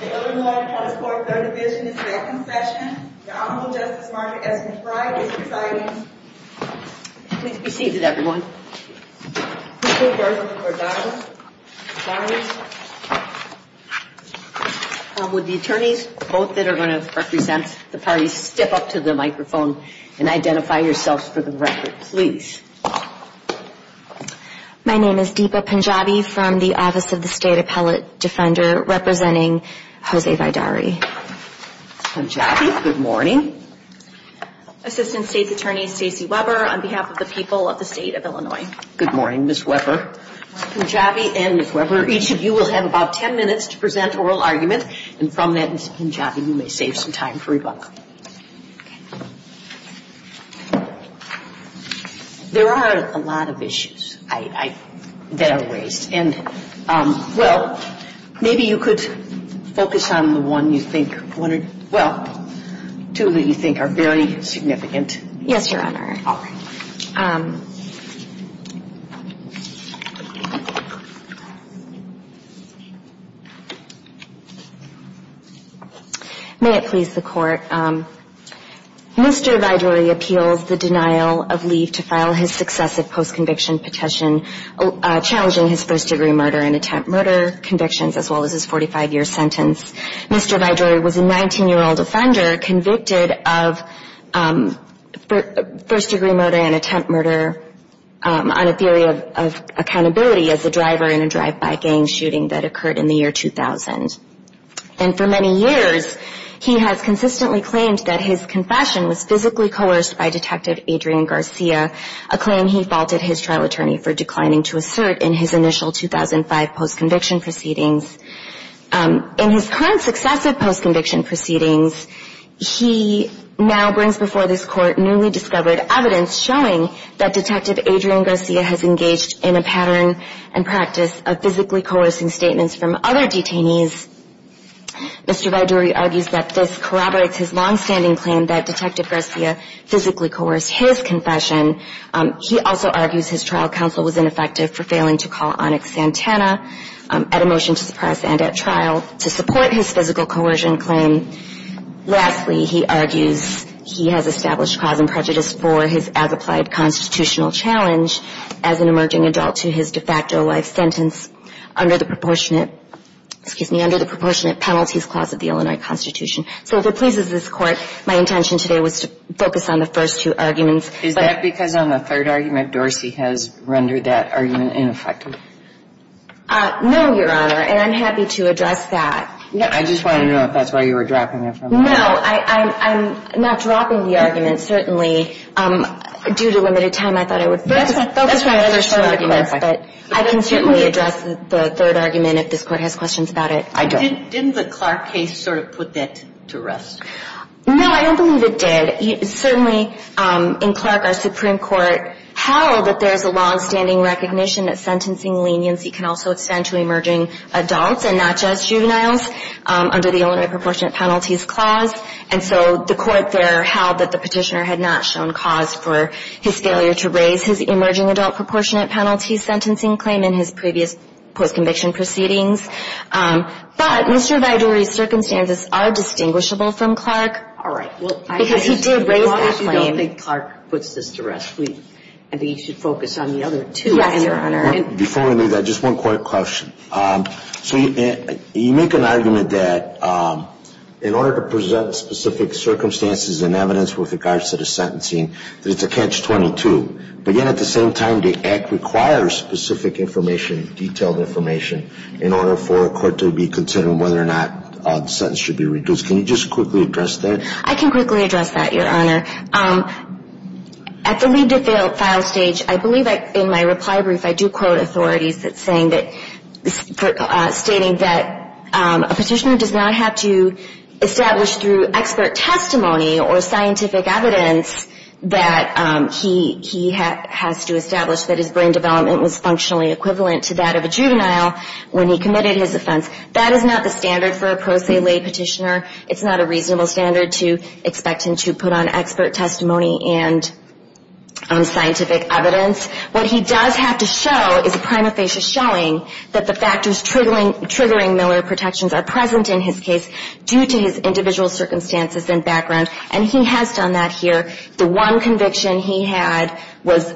The Illinois Appellate Court Third Division is now in session. Your Honorable Justice Martha S. McBride is presiding. Please be seated, everyone. Please put your cards on the floor. Dominance. Dominance. Would the attorneys, both that are going to represent the parties, step up to the microphone and identify yourselves for the record, please. My name is Deepa Punjabi from the Office of the State Appellate Defender, representing Jose Vidaurri. Punjabi, good morning. Assistant State's Attorney Stacey Weber, on behalf of the people of the State of Illinois. Good morning, Ms. Weber. Ms. Punjabi and Ms. Weber, each of you will have about ten minutes to present oral argument, and from then, Punjabi, you may save some time for rebuttal. There are a lot of issues that are raised, and, well, maybe you could focus on the one you think, well, two that you think are very significant. Yes, Your Honor. All right. May it please the Court. Mr. Vidaurri appeals the denial of leave to file his successive post-conviction petition challenging his first-degree murder and attempt murder convictions, as well as his 45-year sentence. Mr. Vidaurri was a 19-year-old offender convicted of first-degree murder and attempt murder on a theory of accountability as a driver in a drive-by gang shooting that occurred in the year 2000. And for many years, he has consistently claimed that his confession was physically coerced by Detective Adrian Garcia, a claim he faulted his trial attorney for declining to assert in his initial 2005 post-conviction proceedings. In his current successive post-conviction proceedings, he now brings before this Court newly discovered evidence showing that Detective Adrian Garcia has engaged in a pattern and practice of physically coercing statements from other detainees. Mr. Vidaurri argues that this corroborates his longstanding claim that Detective Garcia physically coerced his confession. He also argues his trial counsel was ineffective for failing to call Onyx Santana at a motion to suppress and at trial to support his physical coercion claim. Lastly, he argues he has established cause and prejudice for his as-applied constitutional challenge as an emerging adult to his de facto life sentence under the proportionate penalties clause of the Illinois Constitution. So if it pleases this Court, my intention today was to focus on the first two arguments. Is that because on the third argument, Dorsey has rendered that argument ineffective? No, Your Honor. And I'm happy to address that. I just wanted to know if that's why you were dropping it. No, I'm not dropping the argument. Certainly, due to limited time, I thought I would focus on the first two arguments. But I can certainly address the third argument if this Court has questions about it. I don't. Didn't the Clark case sort of put that to rest? No, I don't believe it did. Certainly, in Clark, our Supreme Court held that there's a longstanding recognition that sentencing leniency can also extend to emerging adults and not just juveniles under the Illinois proportionate penalties clause. And so the Court there held that the petitioner had not shown cause for his failure to raise his emerging adult proportionate penalty sentencing claim in his previous post-conviction proceedings. But Mr. Vidore's circumstances are distinguishable from Clark because he did raise that claim. As long as you don't think Clark puts this to rest, I think you should focus on the other two. Yes, Your Honor. Before we do that, just one quick question. So you make an argument that in order to present specific circumstances and evidence with regards to the sentencing, that it's a catch-22. But yet, at the same time, the Act requires specific information, detailed information, in order for a court to be considering whether or not the sentence should be reduced. Can you just quickly address that? I can quickly address that, Your Honor. At the lead-to-file stage, I believe in my reply brief I do quote authorities stating that a petitioner does not have to establish through expert testimony or scientific evidence that he has to establish that his brain development was functionally equivalent to that of a juvenile when he committed his offense. That is not the standard for a pro se lay petitioner. It's not a reasonable standard to expect him to put on expert testimony and scientific evidence. What he does have to show is a prima facie showing that the factors triggering Miller protections are present in his case due to his individual circumstances and background, and he has done that here. The one conviction he had was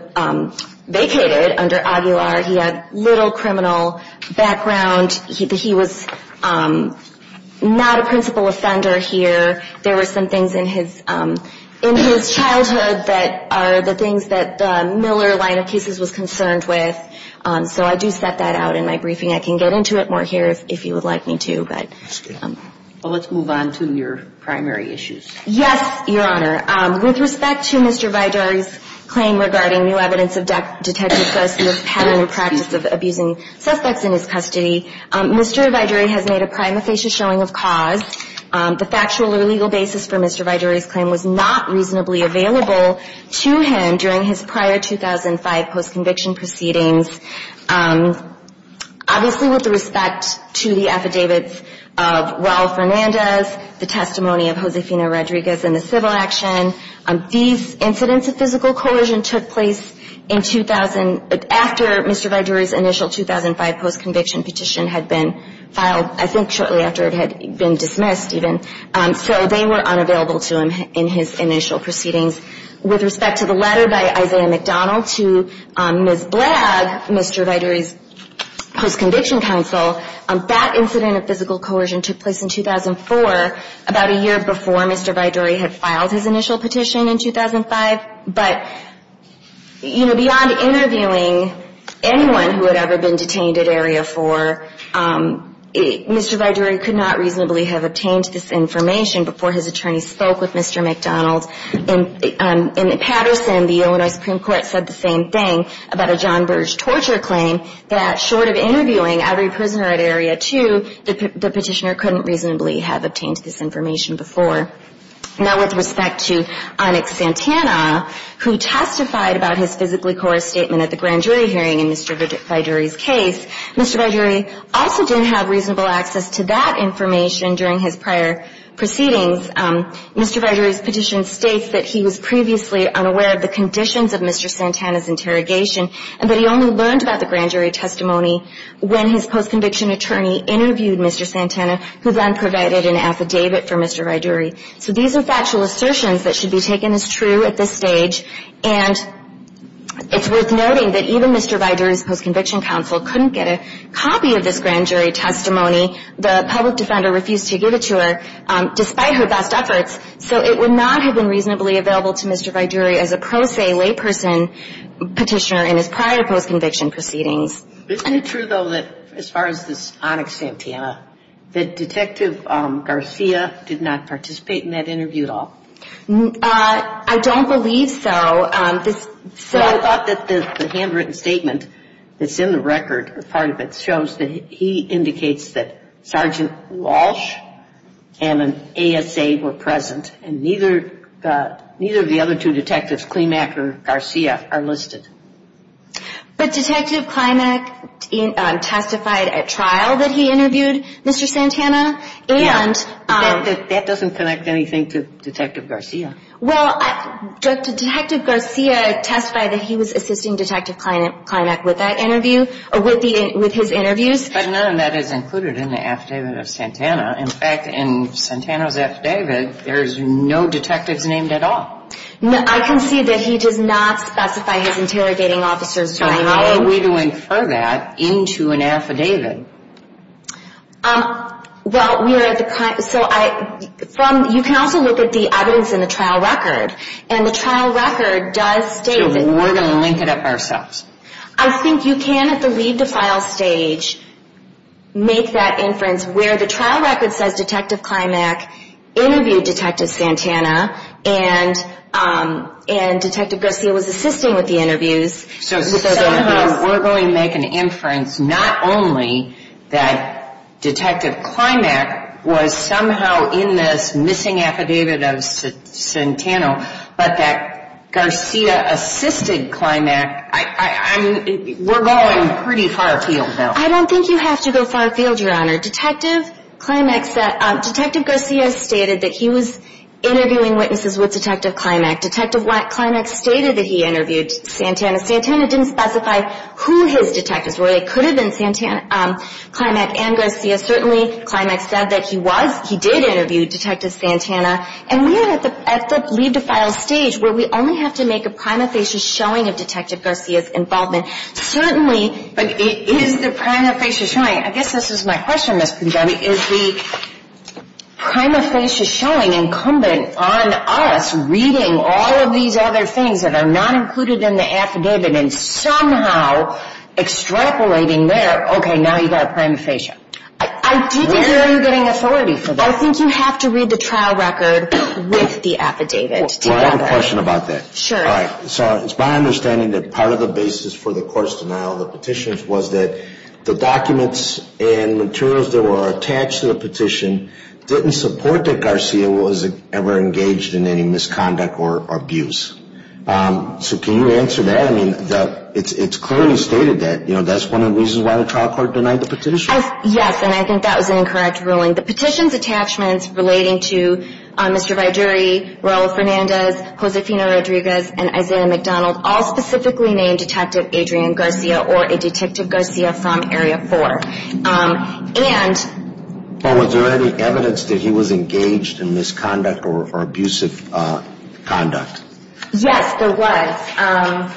vacated under Aguilar. He had little criminal background. He was not a principal offender here. There were some things in his childhood that are the things that the Miller line of cases was concerned with. So I do set that out in my briefing. I can get into it more here if you would like me to. But let's move on to your primary issues. Yes, Your Honor. With respect to Mr. Vidari's claim regarding new evidence of detective custody of pattern and practice of abusing suspects in his custody, Mr. Vidari has made a prima facie showing of cause. The factual or legal basis for Mr. Vidari's claim was not reasonably available to him during his prior 2005 post-conviction proceedings. Obviously with respect to the affidavits of Raul Fernandez, the testimony of Josefina Rodriguez and the civil action, these incidents of physical coercion took place in 2000, after Mr. Vidari's initial 2005 post-conviction petition had been filed, I think shortly after it had been dismissed even. So they were unavailable to him in his initial proceedings. With respect to the letter by Isaiah McDonald to Ms. Blagg, Mr. Vidari's post-conviction counsel, that incident of physical coercion took place in 2004, about a year before Mr. Vidari had filed his initial petition in 2005. But, you know, beyond interviewing anyone who had ever been detained at Area 4, Mr. Vidari could not reasonably have obtained this information before his attorney spoke with Mr. McDonald. In Patterson, the Illinois Supreme Court said the same thing about a John Burge torture claim, that short of interviewing every prisoner at Area 2, the petitioner couldn't reasonably have obtained this information before. Now with respect to Onyx Santana, who testified about his physically coerced statement at the grand jury hearing in Mr. Vidari's case, Mr. Vidari also didn't have reasonable access to that information during his prior proceedings. Mr. Vidari's petition states that he was previously unaware of the conditions of Mr. Santana's interrogation, and that he only learned about the grand jury testimony when his post-conviction attorney interviewed Mr. Santana, who then provided an affidavit for Mr. Vidari. So these are factual assertions that should be taken as true at this stage, and it's worth noting that even Mr. Vidari's post-conviction counsel couldn't get a copy of this grand jury testimony. The public defender refused to give it to her despite her best efforts, so it would not have been reasonably available to Mr. Vidari as a pro se layperson petitioner in his prior post-conviction proceedings. Isn't it true, though, that as far as this Onyx Santana, that Detective Garcia did not participate in that interview at all? I don't believe so. I thought that the handwritten statement that's in the record, part of it, shows that he indicates that Sergeant Walsh and an ASA were present, and neither of the other two detectives, Klimack or Garcia, are listed. But Detective Klimack testified at trial that he interviewed Mr. Santana. That doesn't connect anything to Detective Garcia. Well, Detective Garcia testified that he was assisting Detective Klimack with that interview, with his interviews. But none of that is included in the affidavit of Santana. In fact, in Santana's affidavit, there's no detectives named at all. I can see that he does not specify his interrogating officers by name. How are we to infer that into an affidavit? Well, you can also look at the evidence in the trial record. And the trial record does state... We're going to link it up ourselves. I think you can, at the leave the file stage, make that inference, where the trial record says Detective Klimack interviewed Detective Santana, and Detective Garcia was assisting with the interviews. So somehow, we're going to make an inference, not only that Detective Klimack was somehow in this missing affidavit of Santana, but that Garcia assisted Klimack. We're going pretty far afield, though. I don't think you have to go far afield, Your Honor. Detective Klimack said... Detective Garcia stated that he was interviewing witnesses with Detective Klimack. Detective Klimack stated that he interviewed Santana. Santana didn't specify who his detectives were. They could have been Klimack and Garcia. Certainly, Klimack said that he did interview Detective Santana. And we are at the leave the file stage, where we only have to make a prima facie showing of Detective Garcia's involvement. Certainly... But is the prima facie showing... I guess this is my question, Ms. Pugliabi. Is the prima facie showing incumbent on us reading all of these other things that are not included in the affidavit and somehow extrapolating there, okay, now you've got a prima facie? I do think you're getting authority for that. I think you have to read the trial record with the affidavit. Do you have a question about that? Sure. All right. So it's my understanding that part of the basis for the court's denial of the petitions was that the documents and materials that were attached to the petition didn't support that Garcia was ever engaged in any misconduct or abuse. So can you answer that? I mean, it's clearly stated that. You know, that's one of the reasons why the trial court denied the petition. Yes, and I think that was an incorrect ruling. The petition's attachments relating to Mr. Viduri, Raul Fernandez, Josefina Rodriguez, and Isaiah McDonald all specifically named Detective Adrian Garcia or a Detective Garcia from Area 4. And... Well, was there any evidence that he was engaged in misconduct or abusive conduct? Yes, there was.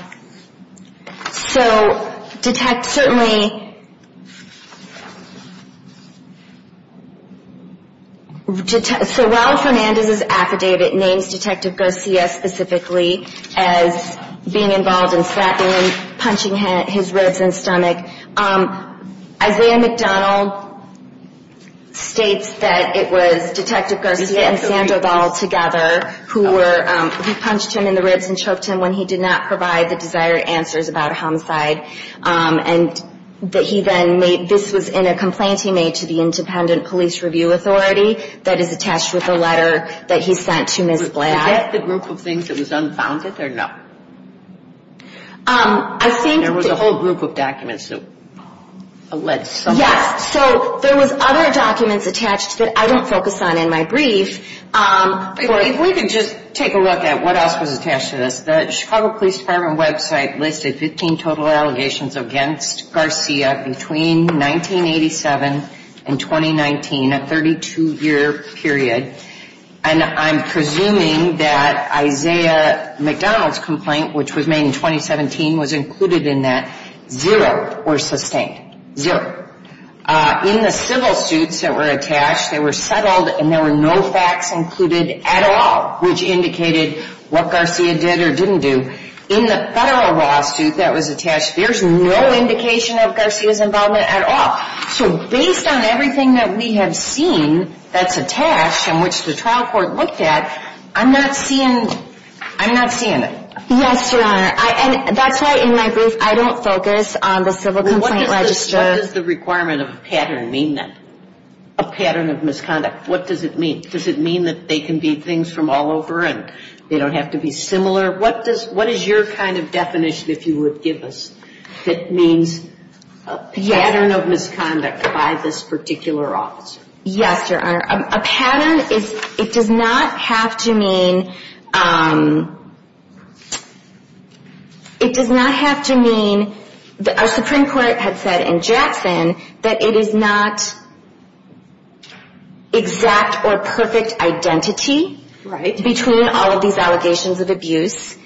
So detect certainly...... as being involved in slapping him, punching his ribs and stomach. Isaiah McDonald states that it was Detective Garcia and Sandra Ball together who were... He punched him in the ribs and choked him when he did not provide the desired answers about a homicide. And that he then made... This was in a complaint he made to the Independent Police Review Authority that is attached with the letter that he sent to Ms. Blatt. Is that the group of things that was unfounded or no? I think... There was a whole group of documents that alleged something. Yes, so there was other documents attached that I don't focus on in my brief. If we could just take a look at what else was attached to this. The Chicago Police Department website listed 15 total allegations against Garcia between 1987 and 2019, a 32-year period. And I'm presuming that Isaiah McDonald's complaint, which was made in 2017, was included in that. Zero were sustained. Zero. In the civil suits that were attached, they were settled and there were no facts included at all, which indicated what Garcia did or didn't do. In the federal lawsuit that was attached, there's no indication of Garcia's involvement at all. So based on everything that we have seen that's attached and which the trial court looked at, I'm not seeing it. Yes, Your Honor. And that's why in my brief I don't focus on the civil complaint register. What does the requirement of a pattern mean then, a pattern of misconduct? What does it mean? Does it mean that they can be things from all over and they don't have to be similar? What is your kind of definition, if you would give us, that means a pattern of misconduct by this particular officer? Yes, Your Honor. A pattern, it does not have to mean, it does not have to mean, our Supreme Court had said in Jackson that it is not exact or perfect identity between all of these allegations of abuse.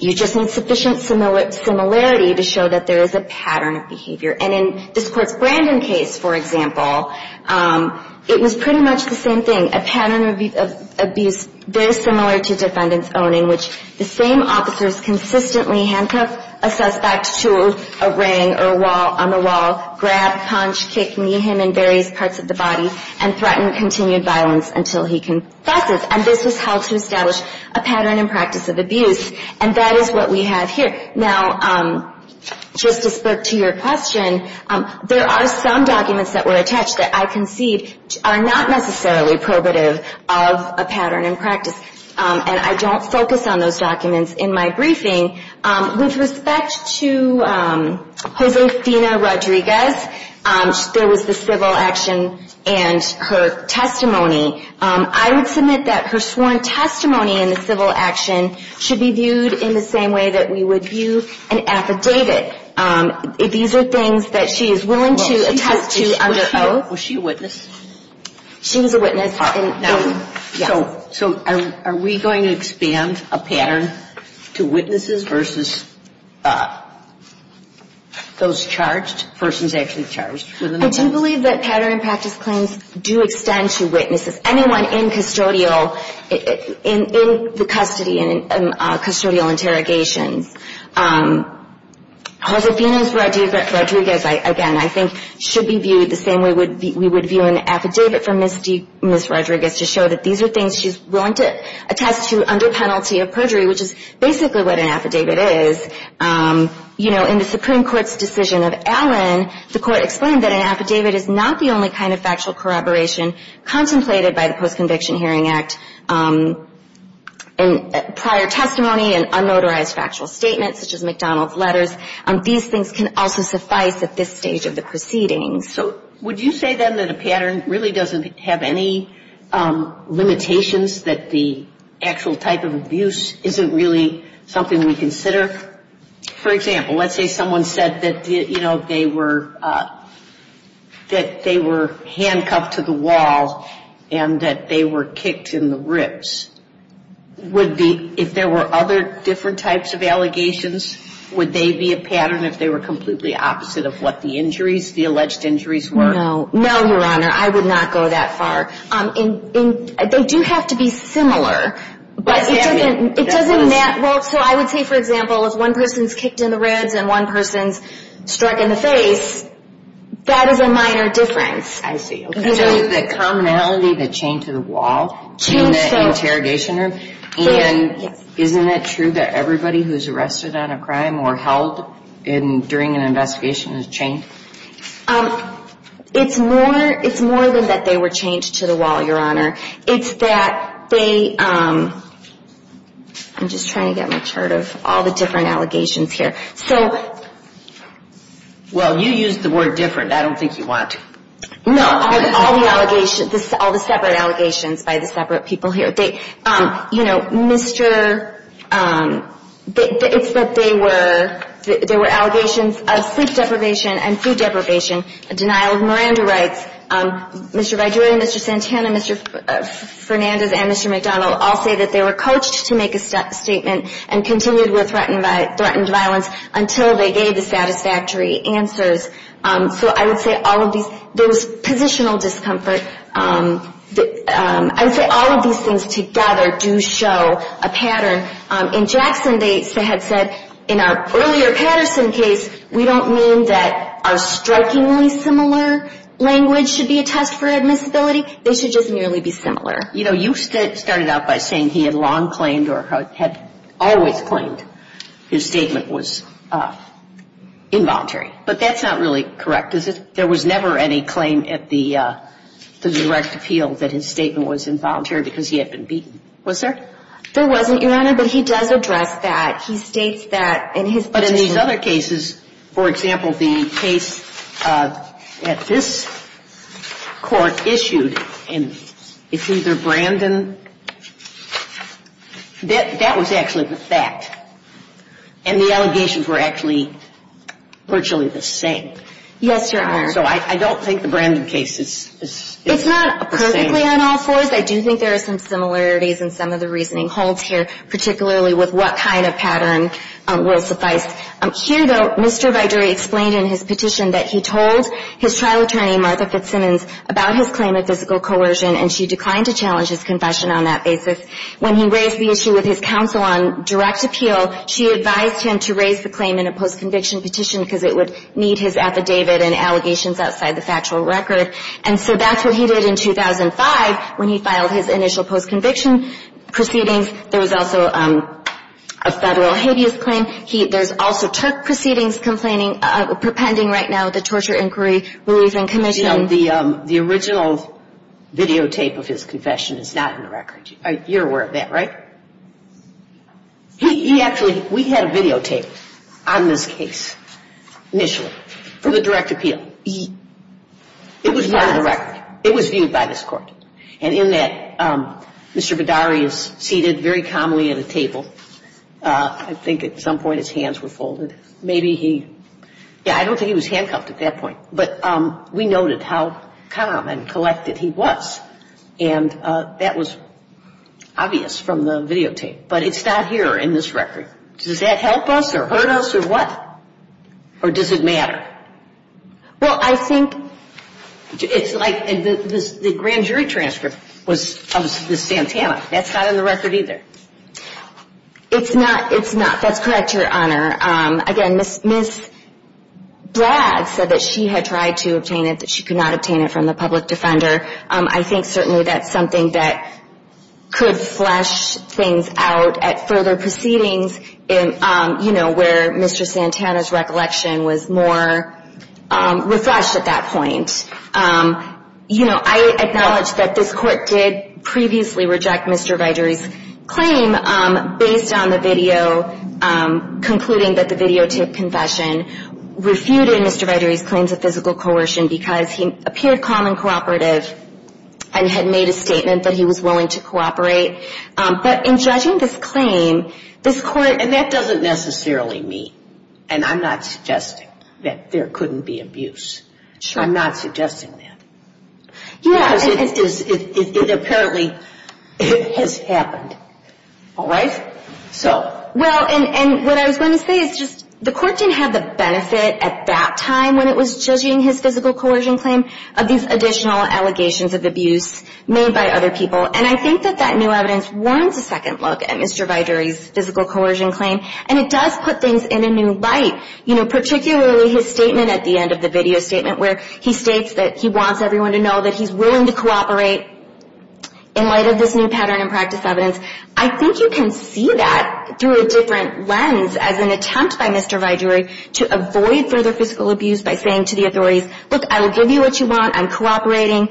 You just need sufficient similarity to show that there is a pattern of behavior. And in this Court's Brandon case, for example, it was pretty much the same thing, a pattern of abuse very similar to defendant's owning, which the same officers consistently handcuff a suspect to a ring or a wall, on the wall, grab, punch, kick, knee him in various parts of the body, and threaten continued violence until he confesses. And this is how to establish a pattern and practice of abuse. And that is what we have here. Now, just to spirk to your question, there are some documents that were attached that I concede are not necessarily probative of a pattern and practice. And I don't focus on those documents in my briefing. With respect to Josefina Rodriguez, there was the civil action and her testimony. I would submit that her sworn testimony in the civil action should be viewed in the same way that we would view an affidavit. These are things that she is willing to attest to under oath. Was she a witness? She was a witness. So are we going to expand a pattern to witnesses versus those charged, persons actually charged? I do believe that pattern and practice claims do extend to witnesses. Anyone in custodial, in the custody, in custodial interrogations. Josefina Rodriguez, again, I think should be viewed the same way we would view an affidavit for Ms. Rodriguez, to show that these are things she is willing to attest to under penalty of perjury, which is basically what an affidavit is. You know, in the Supreme Court's decision of Allen, the Court explained that an affidavit is not the only kind of factual corroboration contemplated by the Post-Conviction Hearing Act. Prior testimony and unauthorized factual statements, such as McDonald's letters, these things can also suffice at this stage of the proceedings. So would you say, then, that a pattern really doesn't have any limitations, that the actual type of abuse isn't really something we consider? For example, let's say someone said that, you know, they were handcuffed to the wall and that they were kicked in the ribs. Would the – if there were other different types of allegations, would they be a pattern if they were completely opposite of what the injuries, the alleged injuries were? No. No, Your Honor. I would not go that far. They do have to be similar, but it doesn't matter. Well, so I would say, for example, if one person is kicked in the ribs and one person is struck in the face, that is a minor difference. I see. Okay. The commonality, the chain to the wall in the interrogation room, and isn't it true that everybody who is arrested on a crime or held during an investigation is chained? It's more than that they were chained to the wall, Your Honor. It's that they – I'm just trying to get my chart of all the different allegations here. So – Well, you used the word different. I don't think you want to. No. All the allegations – all the separate allegations by the separate people here. You know, Mr. – it's that they were – there were allegations of sleep deprivation and food deprivation, a denial of Miranda rights. Mr. Viduria, Mr. Santana, Mr. Fernandez, and Mr. McDonald all say that they were coached to make a statement and continued with threatened violence until they gave the satisfactory answers. So I would say all of these – there was positional discomfort. I would say all of these things together do show a pattern. In Jackson, they had said in our earlier Patterson case, we don't mean that our strikingly similar language should be a test for admissibility. They should just merely be similar. You know, you started out by saying he had long claimed or had always claimed his statement was involuntary. But that's not really correct, is it? There was never any claim at the direct appeal that his statement was involuntary because he had been beaten. Was there? There wasn't, Your Honor, but he does address that. He states that in his petition – But in these other cases, for example, the case at this court issued, and it's either Brandon – That was actually the fact, and the allegations were actually virtually the same. Yes, Your Honor. So I don't think the Brandon case is the same. It's not perfectly on all fours. I do think there are some similarities in some of the reasoning holds here, particularly with what kind of pattern will suffice. Here, though, Mr. Viduri explained in his petition that he told his trial attorney, Martha Fitzsimmons, about his claim of physical coercion, and she declined to challenge his confession on that basis. When he raised the issue with his counsel on direct appeal, she advised him to raise the claim in a post-conviction petition because it would need his affidavit and allegations outside the factual record. And so that's what he did in 2005 when he filed his initial post-conviction proceedings. There was also a Federal habeas claim. There's also Turk proceedings compending right now, the Torture, Inquiry, Relief, and Commission. Now, the original videotape of his confession is not in the record. You're aware of that, right? He actually – we had a videotape on this case initially for the direct appeal. It was not in the record. It was viewed by this Court. And in that, Mr. Viduri is seated very calmly at a table. I think at some point his hands were folded. Maybe he – yeah, I don't think he was handcuffed at that point. But we noted how calm and collected he was. And that was obvious from the videotape. But it's not here in this record. Does that help us or hurt us or what? Or does it matter? Well, I think – It's like the grand jury transcript was of this Santana. That's not in the record either. It's not. It's not. That's correct, Your Honor. Again, Ms. Blatt said that she had tried to obtain it, that she could not obtain it from the public defender. I think certainly that's something that could flesh things out at further proceedings, you know, where Mr. Santana's recollection was more refreshed at that point. You know, I acknowledge that this Court did previously reject Mr. Viduri's claim based on the video concluding that the videotape confession refuted Mr. Viduri's claims of physical coercion because he appeared calm and cooperative and had made a statement that he was willing to cooperate. But in judging this claim, this Court – And that doesn't necessarily mean, and I'm not suggesting, that there couldn't be abuse. I'm not suggesting that. Because it apparently has happened. All right? Well, and what I was going to say is just the Court didn't have the benefit at that time when it was judging his physical coercion claim of these additional allegations of abuse made by other people. And I think that that new evidence warms a second look at Mr. Viduri's physical coercion claim, and it does put things in a new light, you know, particularly his statement at the end of the video statement where he states that he wants everyone to know that he's willing to cooperate in light of this new pattern and practice evidence. I think you can see that through a different lens as an attempt by Mr. Viduri to avoid further physical abuse by saying to the authorities, Look, I will give you what you want. I'm cooperating.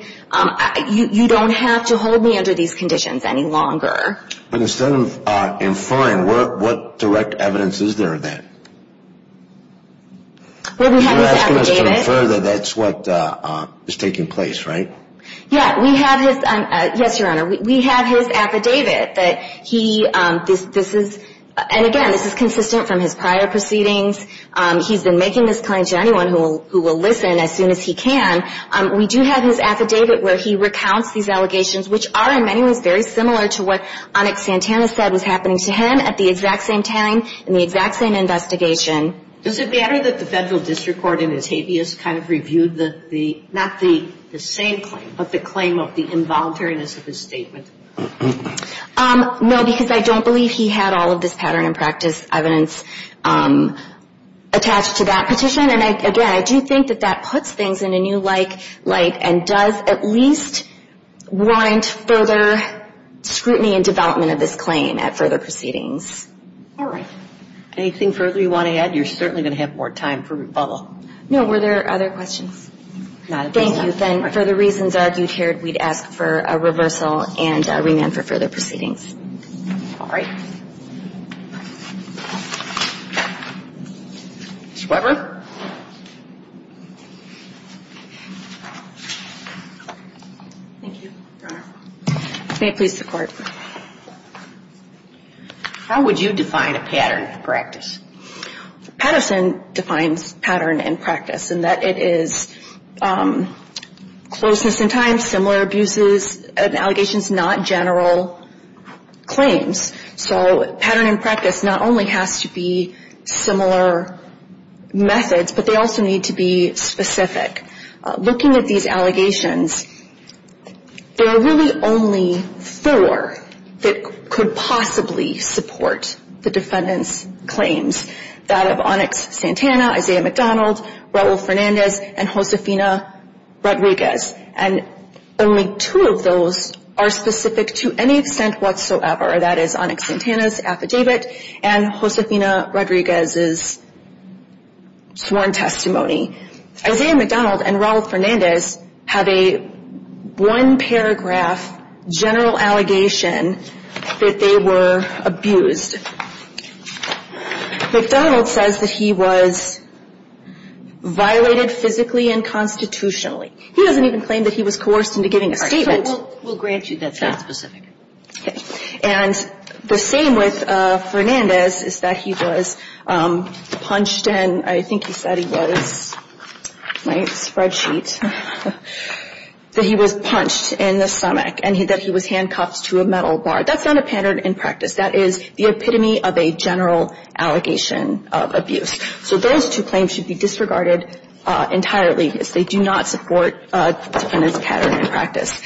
You don't have to hold me under these conditions any longer. But instead of inferring, what direct evidence is there then? Well, we have his affidavit. You're asking us to infer that that's what is taking place, right? Yeah, we have his, yes, Your Honor. We have his affidavit that he, this is, and again, this is consistent from his prior proceedings. He's been making this claim to anyone who will listen as soon as he can. We do have his affidavit where he recounts these allegations, which are in many ways very similar to what Onik Santana said was happening to him at the exact same time in the exact same investigation. Does it matter that the Federal District Court in its habeas kind of reviewed the, not the same claim, but the claim of the involuntariness of his statement? No, because I don't believe he had all of this pattern and practice evidence attached to that petition. And again, I do think that that puts things in a new light and does at least warrant further scrutiny and development of this claim at further proceedings. All right. Anything further you want to add? You're certainly going to have more time for rebuttal. No. Were there other questions? Not at this time. Thank you. Then for the reasons argued here, we'd ask for a reversal and remand for further proceedings. All right. Ms. Weber. Thank you, Your Honor. May it please the Court. How would you define a pattern and practice? Patterson defines pattern and practice in that it is closeness in time, similar abuses, and allegations, not general claims. So pattern and practice not only has to be similar methods, but they also need to be specific. Looking at these allegations, there are really only four that could possibly support the defendant's claims, that of Onyx Santana, Isaiah McDonald, Raul Fernandez, and Josefina Rodriguez. And only two of those are specific to any extent whatsoever. That is Onyx Santana's affidavit and Josefina Rodriguez's sworn testimony. Isaiah McDonald and Raul Fernandez have a one-paragraph general allegation that they were abused. McDonald says that he was violated physically and constitutionally. He doesn't even claim that he was coerced into giving a statement. We'll grant you that's not specific. And the same with Fernandez is that he was punched and I think he said he was, my spreadsheet, that he was punched in the stomach and that he was handcuffed to a metal bar. That's not a pattern and practice. That is the epitome of a general allegation of abuse. So those two claims should be disregarded entirely because they do not support the defendant's pattern and practice.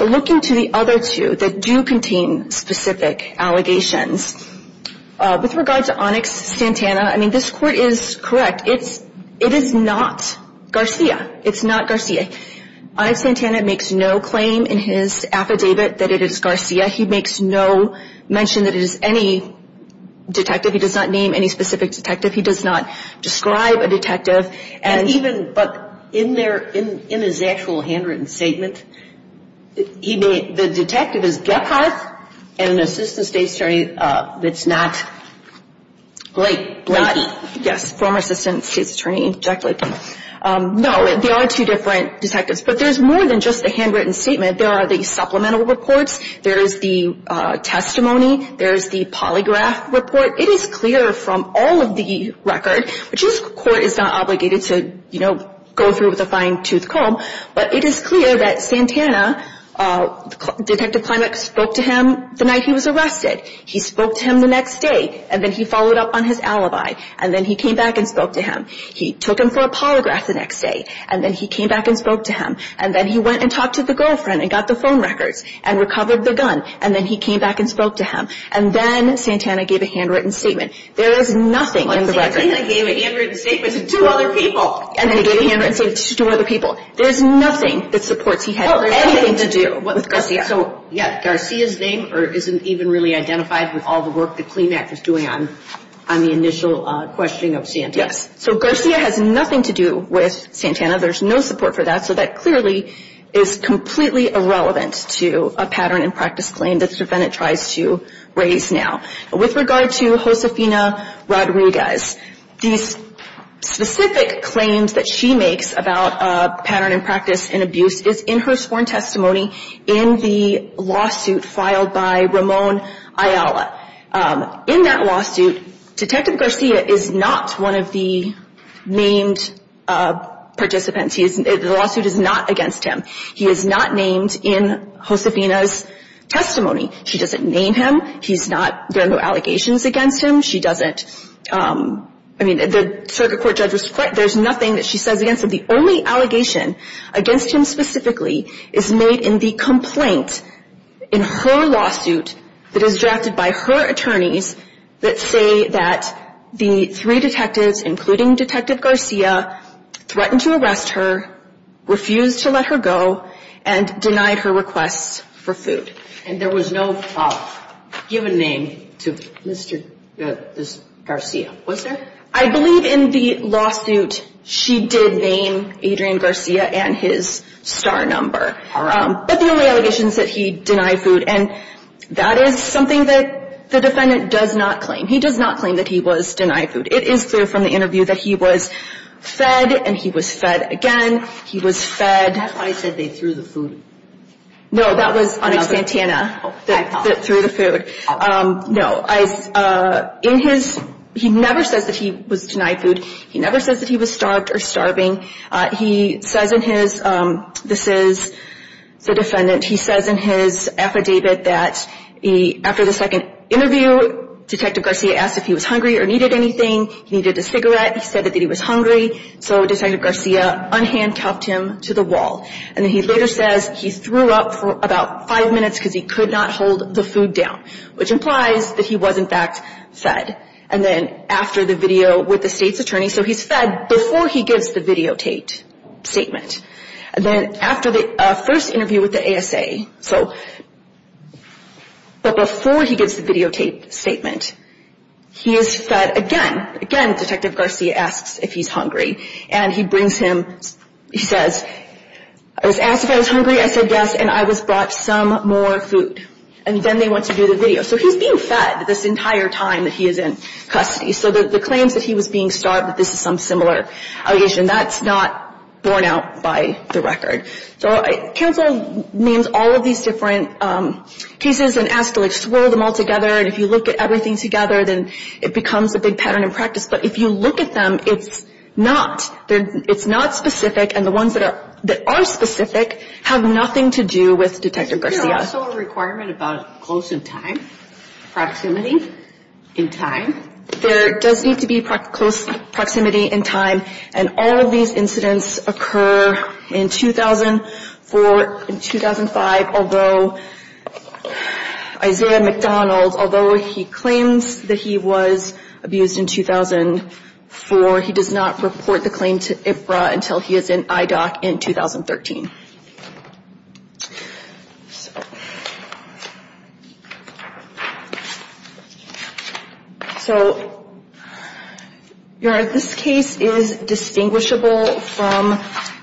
Looking to the other two that do contain specific allegations, with regard to Onyx Santana, I mean, this court is correct. It is not Garcia. It's not Garcia. Onyx Santana makes no claim in his affidavit that it is Garcia. He makes no mention that it is any detective. He does not name any specific detective. He does not describe a detective. But in his actual handwritten statement, the detective is Gephardt and an assistant state's attorney that's not Blakey. Yes, former assistant state's attorney, Jack Blakey. No, they are two different detectives. But there's more than just a handwritten statement. There are the supplemental reports. There is the testimony. There is the polygraph report. It is clear from all of the record, which this court is not obligated to, you know, go through with a fine-tooth comb, but it is clear that Santana, Detective Klimek, spoke to him the night he was arrested. He spoke to him the next day, and then he followed up on his alibi, and then he came back and spoke to him. He took him for a polygraph the next day, and then he came back and spoke to him, and then he went and talked to the girlfriend and got the phone records and recovered the gun, and then he came back and spoke to him. And then Santana gave a handwritten statement. There is nothing in the record. Santana gave a handwritten statement to two other people. And then he gave a handwritten statement to two other people. There's nothing that supports he had anything to do with Garcia. So, yeah, Garcia's name isn't even really identified with all the work that Klimek is doing on the initial questioning of Santana. Yes. So Garcia has nothing to do with Santana. There's no support for that. So that clearly is completely irrelevant to a pattern and practice claim that the defendant tries to raise now. With regard to Josefina Rodriguez, these specific claims that she makes about pattern and practice and abuse is in her sworn testimony in the lawsuit filed by Ramon Ayala. In that lawsuit, Detective Garcia is not one of the named participants. The lawsuit is not against him. He is not named in Josefina's testimony. She doesn't name him. He's not – there are no allegations against him. She doesn't – I mean, the circuit court judge was quite – there's nothing that she says against him. The only allegation against him specifically is made in the complaint in her lawsuit that is drafted by her attorneys that say that the three detectives, including Detective Garcia, threatened to arrest her, refused to let her go, and denied her requests for food. And there was no given name to Mr. Garcia, was there? I believe in the lawsuit she did name Adrian Garcia and his star number. All right. But the only allegation is that he denied food, and that is something that the defendant does not claim. He does not claim that he was denied food. It is clear from the interview that he was fed, and he was fed again. He was fed – That's why I said they threw the food. No, that was on a Santana. I apologize. Threw the food. No, I – in his – he never says that he was denied food. He never says that he was starved or starving. He says in his – this is the defendant. He says in his affidavit that after the second interview, Detective Garcia asked if he was hungry or needed anything. He needed a cigarette. He said that he was hungry, so Detective Garcia unhandcuffed him to the wall. And then he later says he threw up for about five minutes because he could not hold the food down, which implies that he was, in fact, fed. And then after the video with the state's attorney – so he's fed before he gives the videotaped statement. And then after the first interview with the ASA, so – but before he gives the videotaped statement, he is fed again. Again, Detective Garcia asks if he's hungry, and he brings him – he says, I was asked if I was hungry. I said yes, and I was brought some more food. And then they went to do the video. So he's being fed this entire time that he is in custody. So the claims that he was being starved, that this is some similar allegation, that's not borne out by the record. So counsel names all of these different cases and asks to, like, swirl them all together. And if you look at everything together, then it becomes a big pattern in practice. But if you look at them, it's not – it's not specific. And the ones that are specific have nothing to do with Detective Garcia. Is there also a requirement about close in time, proximity in time? There does need to be close proximity in time. And all of these incidents occur in 2004, 2005, although – Isaiah McDonald, although he claims that he was abused in 2004, he does not report the claim to IFRA until he is in IDOC in 2013. So this case is distinguishable from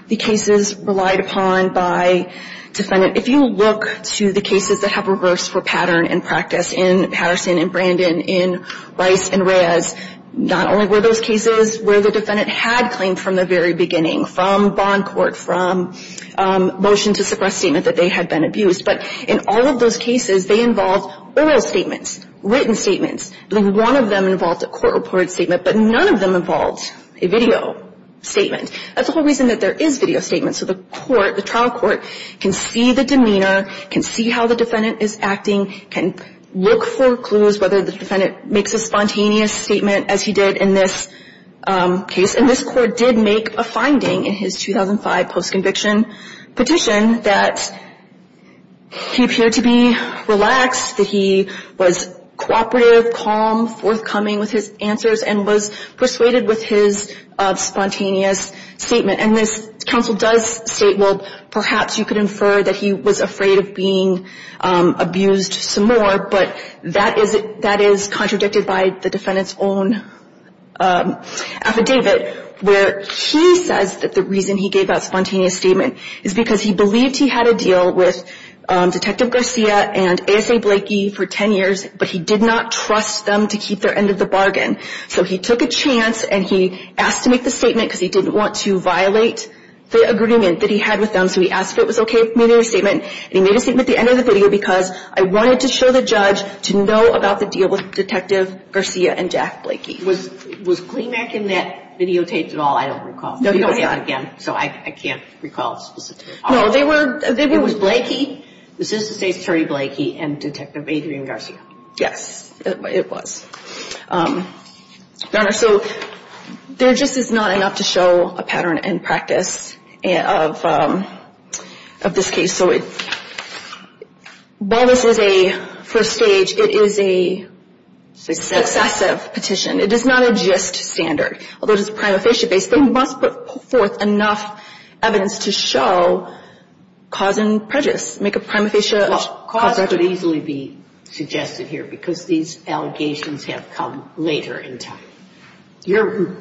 the cases relied upon by defendant. If you look to the cases that have reversed for pattern and practice in Patterson and Brandon, in Rice and Reyes, not only were those cases where the defendant had claimed from the very beginning, from bond court, from motion to suppress statement that they had been abused, but in all of those cases, they involved oral statements, written statements. I think one of them involved a court-reported statement, but none of them involved a video statement. That's the whole reason that there is video statements. So the court, the trial court, can see the demeanor, can see how the defendant is acting, can look for clues whether the defendant makes a spontaneous statement, as he did in this case. And this court did make a finding in his 2005 post-conviction petition that he appeared to be relaxed, that he was cooperative, calm, forthcoming with his answers, and was persuaded with his spontaneous statement. And this counsel does state, well, perhaps you could infer that he was afraid of being abused some more, but that is contradicted by the defendant's own affidavit, where he says that the reason he gave that spontaneous statement is because he believed he had a deal with Detective Garcia and ASA Blakey for 10 years, but he did not trust them to keep their end of the bargain. So he took a chance, and he asked to make the statement because he didn't want to violate the agreement that he had with them. So he asked if it was okay if he made a statement, and he made a statement at the end of the video, because I wanted to show the judge to know about the deal with Detective Garcia and Jack Blakey. Was Kleemak in that videotaped at all? I don't recall. No, he was not. So I can't recall specifically. No, they were. It was Blakey? It was Blakey, and Detective Adrian Garcia. Yes, it was. Your Honor, so there just is not enough to show a pattern and practice of this case. So while this is a first stage, it is a successive petition. It is not a just standard. Although it is prima facie based, they must put forth enough evidence to show cause and prejudice, make a prima facie. Well, cause could easily be suggested here because these allegations have come later in time. I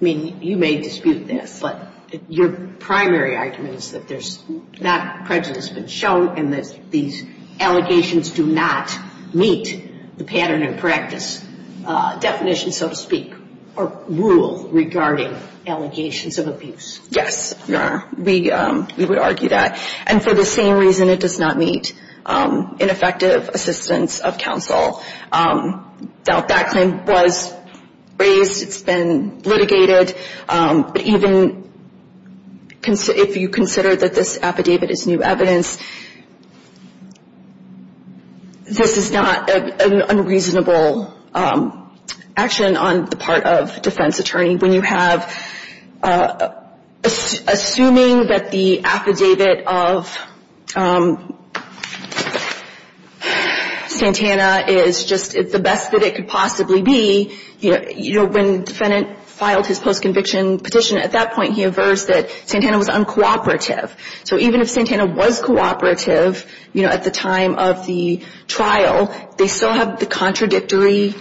mean, you may dispute this, but your primary argument is that there's not prejudice been shown, and that these allegations do not meet the pattern and practice definition, so to speak, or rule regarding allegations of abuse. Yes, Your Honor. We would argue that. And for the same reason, it does not meet ineffective assistance of counsel. That claim was raised. It's been litigated. But even if you consider that this affidavit is new evidence, this is not an unreasonable action on the part of defense attorney. I mean, when you have, assuming that the affidavit of Santana is just the best that it could possibly be, you know, when the defendant filed his post-conviction petition, at that point he aversed that Santana was uncooperative. So even if Santana was cooperative, you know, at the time of the trial, they still have the contradictory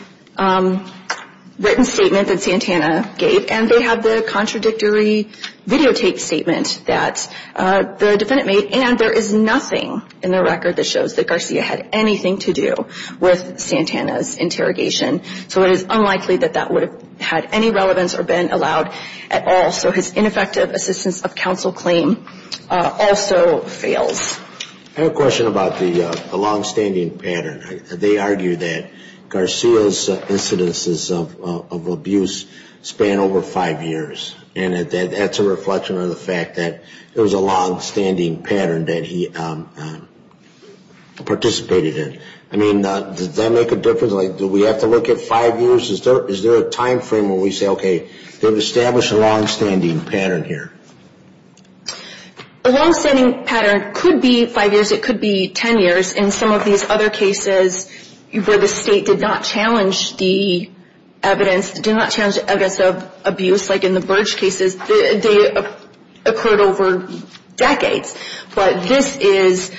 written statement that Santana gave, and they have the contradictory videotaped statement that the defendant made. And there is nothing in the record that shows that Garcia had anything to do with Santana's interrogation. So it is unlikely that that would have had any relevance or been allowed at all. So his ineffective assistance of counsel claim also fails. I have a question about the longstanding pattern. They argue that Garcia's incidences of abuse span over five years, and that's a reflection of the fact that it was a longstanding pattern that he participated in. I mean, does that make a difference? Like, do we have to look at five years? Is there a time frame where we say, okay, they've established a longstanding pattern here? A longstanding pattern could be five years, it could be ten years. In some of these other cases where the state did not challenge the evidence, did not challenge the evidence of abuse, like in the Burge cases, they occurred over decades. But this is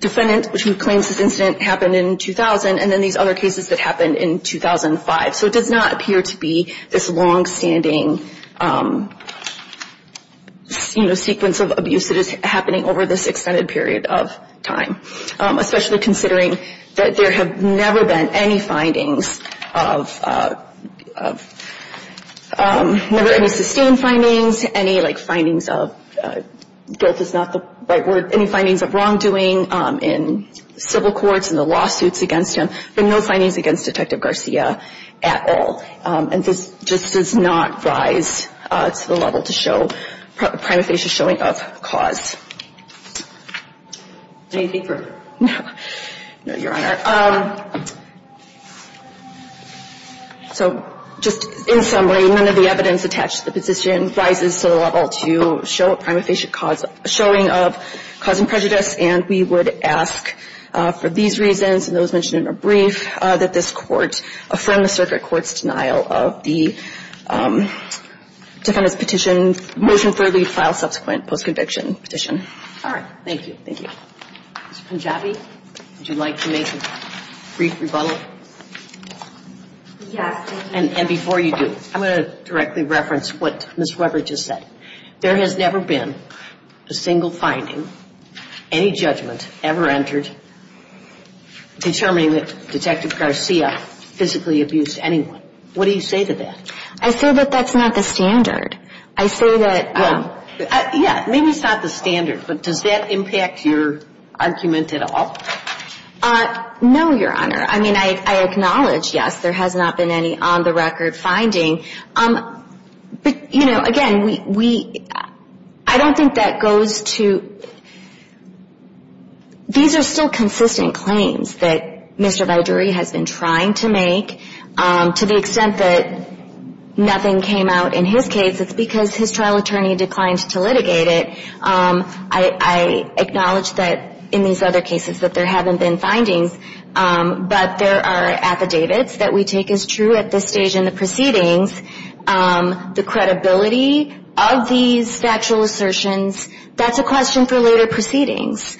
defendants who claim this incident happened in 2000, and then these other cases that happened in 2005. So it does not appear to be this longstanding, you know, sequence of abuse that is happening over this extended period of time, especially considering that there have never been any findings of, never any sustained findings, any, like, findings of, guilt is not the right word, any findings of wrongdoing in civil courts and the lawsuits against him, but no findings against Detective Garcia at all. And this just does not rise to the level to show prima facie showing of cause. Anything further? No, Your Honor. So just in summary, none of the evidence attached to the position rises to the level to show prima facie showing of cause and prejudice, and we would ask for these reasons and those mentioned in the brief that this Court affirm the circuit court's denial of the defendant's petition, motion further filed subsequent post-conviction petition. All right. Thank you. Thank you. Ms. Punjabi, would you like to make a brief rebuttal? Yes. And before you do, I'm going to directly reference what Ms. Weber just said. There has never been a single finding, any judgment ever entered determining that Detective Garcia physically abused anyone. What do you say to that? I say that that's not the standard. I say that — Well, yeah, maybe it's not the standard, but does that impact your argument at all? No, Your Honor. I mean, I acknowledge, yes, there has not been any on-the-record finding. But, you know, again, we — I don't think that goes to — these are still consistent claims that Mr. Viduri has been trying to make. To the extent that nothing came out in his case, it's because his trial attorney declined to litigate it. I acknowledge that in these other cases that there haven't been findings, but there are affidavits that we have found that there have been findings. The credibility of these factual assertions, that's a question for later proceedings.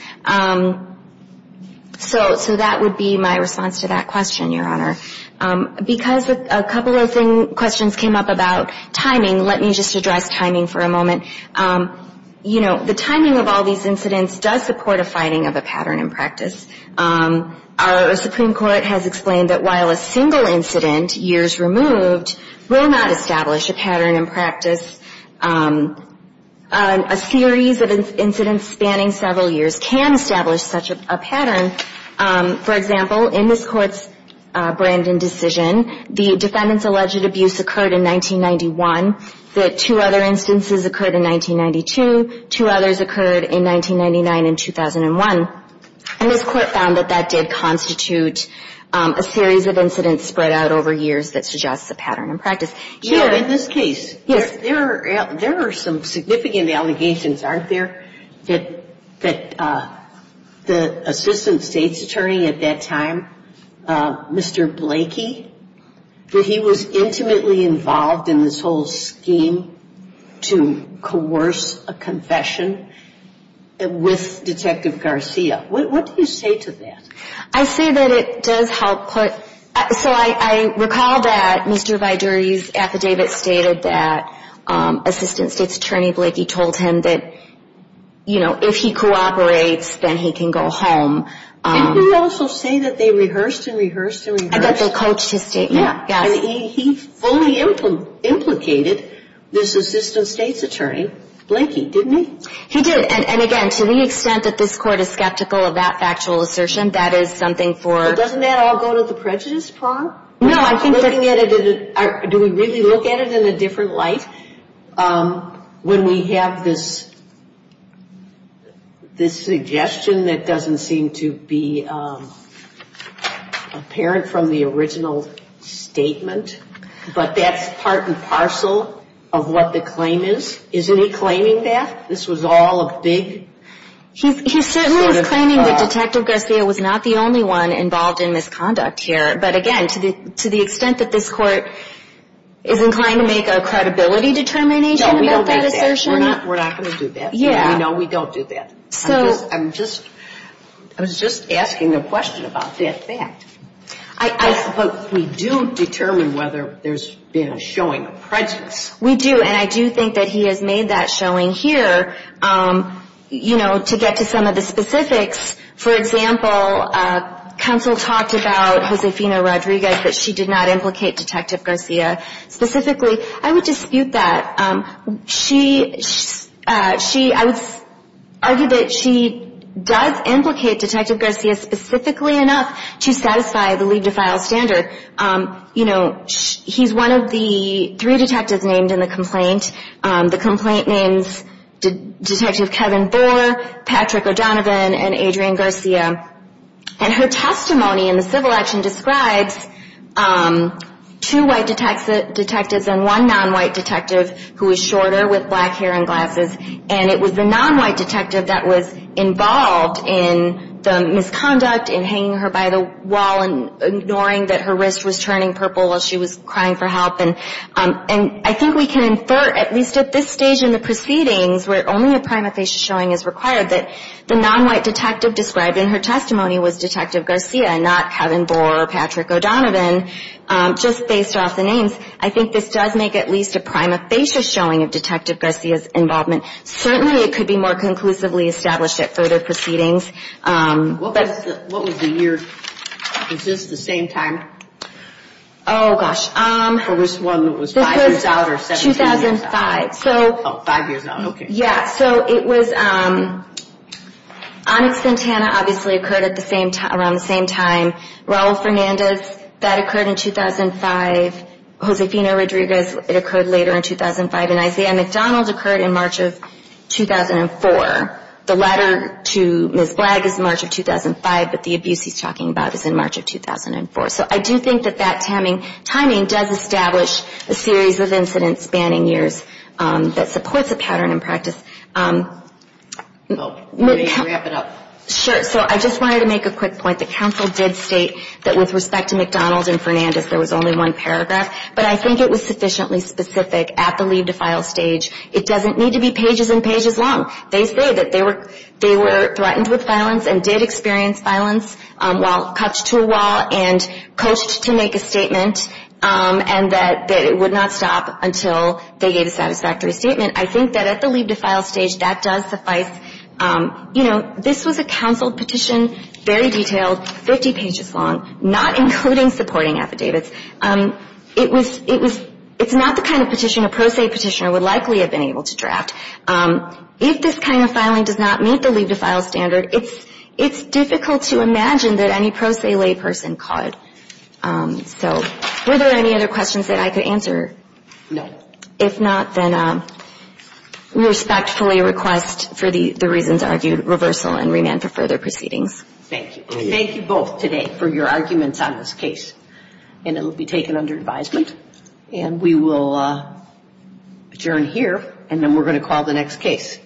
So that would be my response to that question, Your Honor. Because a couple of questions came up about timing, let me just address timing for a moment. You know, the timing of all these incidents does support a finding of a pattern in practice. Our Supreme Court has explained that while a single incident, years removed, will not establish a pattern in practice, a series of incidents spanning several years can establish such a pattern. For example, in this Court's Brandon decision, the defendant's alleged abuse occurred in 1991, that two other instances occurred in 1992, two others occurred in 1999 and 2001. And this Court found that that did constitute a series of incidents spread out over years that suggests a pattern in practice. Here in this case, there are some significant allegations, aren't there, that the Assistant State's Attorney at that time, Mr. Blakey, that he was intimately involved in this whole scheme to coerce a confession with Detective Garcia. What do you say to that? I say that it does help put, so I recall that Mr. Viduri's affidavit stated that Assistant State's Attorney Blakey told him that, you know, if he cooperates, then he can go home. Didn't he also say that they rehearsed and rehearsed and rehearsed? That they coached his statement, yes. And he fully implicated this Assistant State's Attorney Blakey, didn't he? He did. And again, to the extent that this Court is skeptical of that factual assertion, that is something for Doesn't that all go to the prejudice prong? No, I think that Looking at it, do we really look at it in a different light? When we have this suggestion that doesn't seem to be apparent from the original statement, but that's part and parcel of what the claim is, isn't he claiming that? This was all a big He certainly was claiming that Detective Garcia was not the only one involved in misconduct here, but again, to the extent that this Court is inclined to make a credibility determination about that assertion No, we don't do that. We're not going to do that. Yeah. No, we don't do that. So I'm just, I was just asking a question about that fact. I But we do determine whether there's been a showing of prejudice. We do, and I do think that he has made that showing here. You know, to get to some of the specifics, for example, Counsel talked about Josefina Rodriguez, that she did not implicate Detective Garcia specifically. I would dispute that. She, she, I would argue that she does implicate Detective Garcia specifically enough to satisfy the leave-to-file standard. You know, he's one of the three detectives named in the complaint. The complaint names Detective Kevin Boer, Patrick O'Donovan, and Adrian Garcia. And her testimony in the civil action describes two white detectives and one non-white detective who was shorter with black hair and glasses. And it was the non-white detective that was involved in the misconduct and hanging her by the wall and ignoring that her wrist was turning purple as she was crying for help. And I think we can infer, at least at this stage in the proceedings, where only a prima facie showing is required, that the non-white detective described in her testimony was Detective Garcia, not Kevin Boer or Patrick O'Donovan, just based off the names. I think this does make at least a prima facie showing of Detective Garcia's involvement. Certainly it could be more conclusively established at further proceedings. What was the year? Is this the same time? Oh, gosh. For this one, it was five years out or 17 years out? 2005. Oh, five years out, okay. Yeah, so it was Onyx Ventana obviously occurred around the same time. Raul Fernandez, that occurred in 2005. Josefina Rodriguez, it occurred later in 2005. And Isaiah McDonald occurred in March of 2004. The letter to Ms. Blagg is March of 2005, but the abuse he's talking about is in March of 2004. So I do think that that timing does establish a series of incidents spanning years that supports a pattern in practice. Let me wrap it up. Sure. So I just wanted to make a quick point. The counsel did state that with respect to McDonald and Fernandez, there was only one paragraph, but I think it was sufficiently specific at the leave to file stage. It doesn't need to be pages and pages long. They say that they were threatened with violence and did experience violence while cut to a wall and coached to make a statement and that it would not stop until they gave a satisfactory statement. I think that at the leave to file stage, that does suffice. You know, this was a counsel petition, very detailed, 50 pages long, not including supporting affidavits. It's not the kind of petition a pro se petitioner would likely have been able to draft. If this kind of filing does not meet the leave to file standard, it's difficult to imagine that any pro se layperson could. So were there any other questions that I could answer? No. If not, then we respectfully request for the reasons argued, reversal and remand for further proceedings. Thank you. Thank you both today for your arguments on this case. And it will be taken under advisement. And we will adjourn here. And then we're going to call the next case.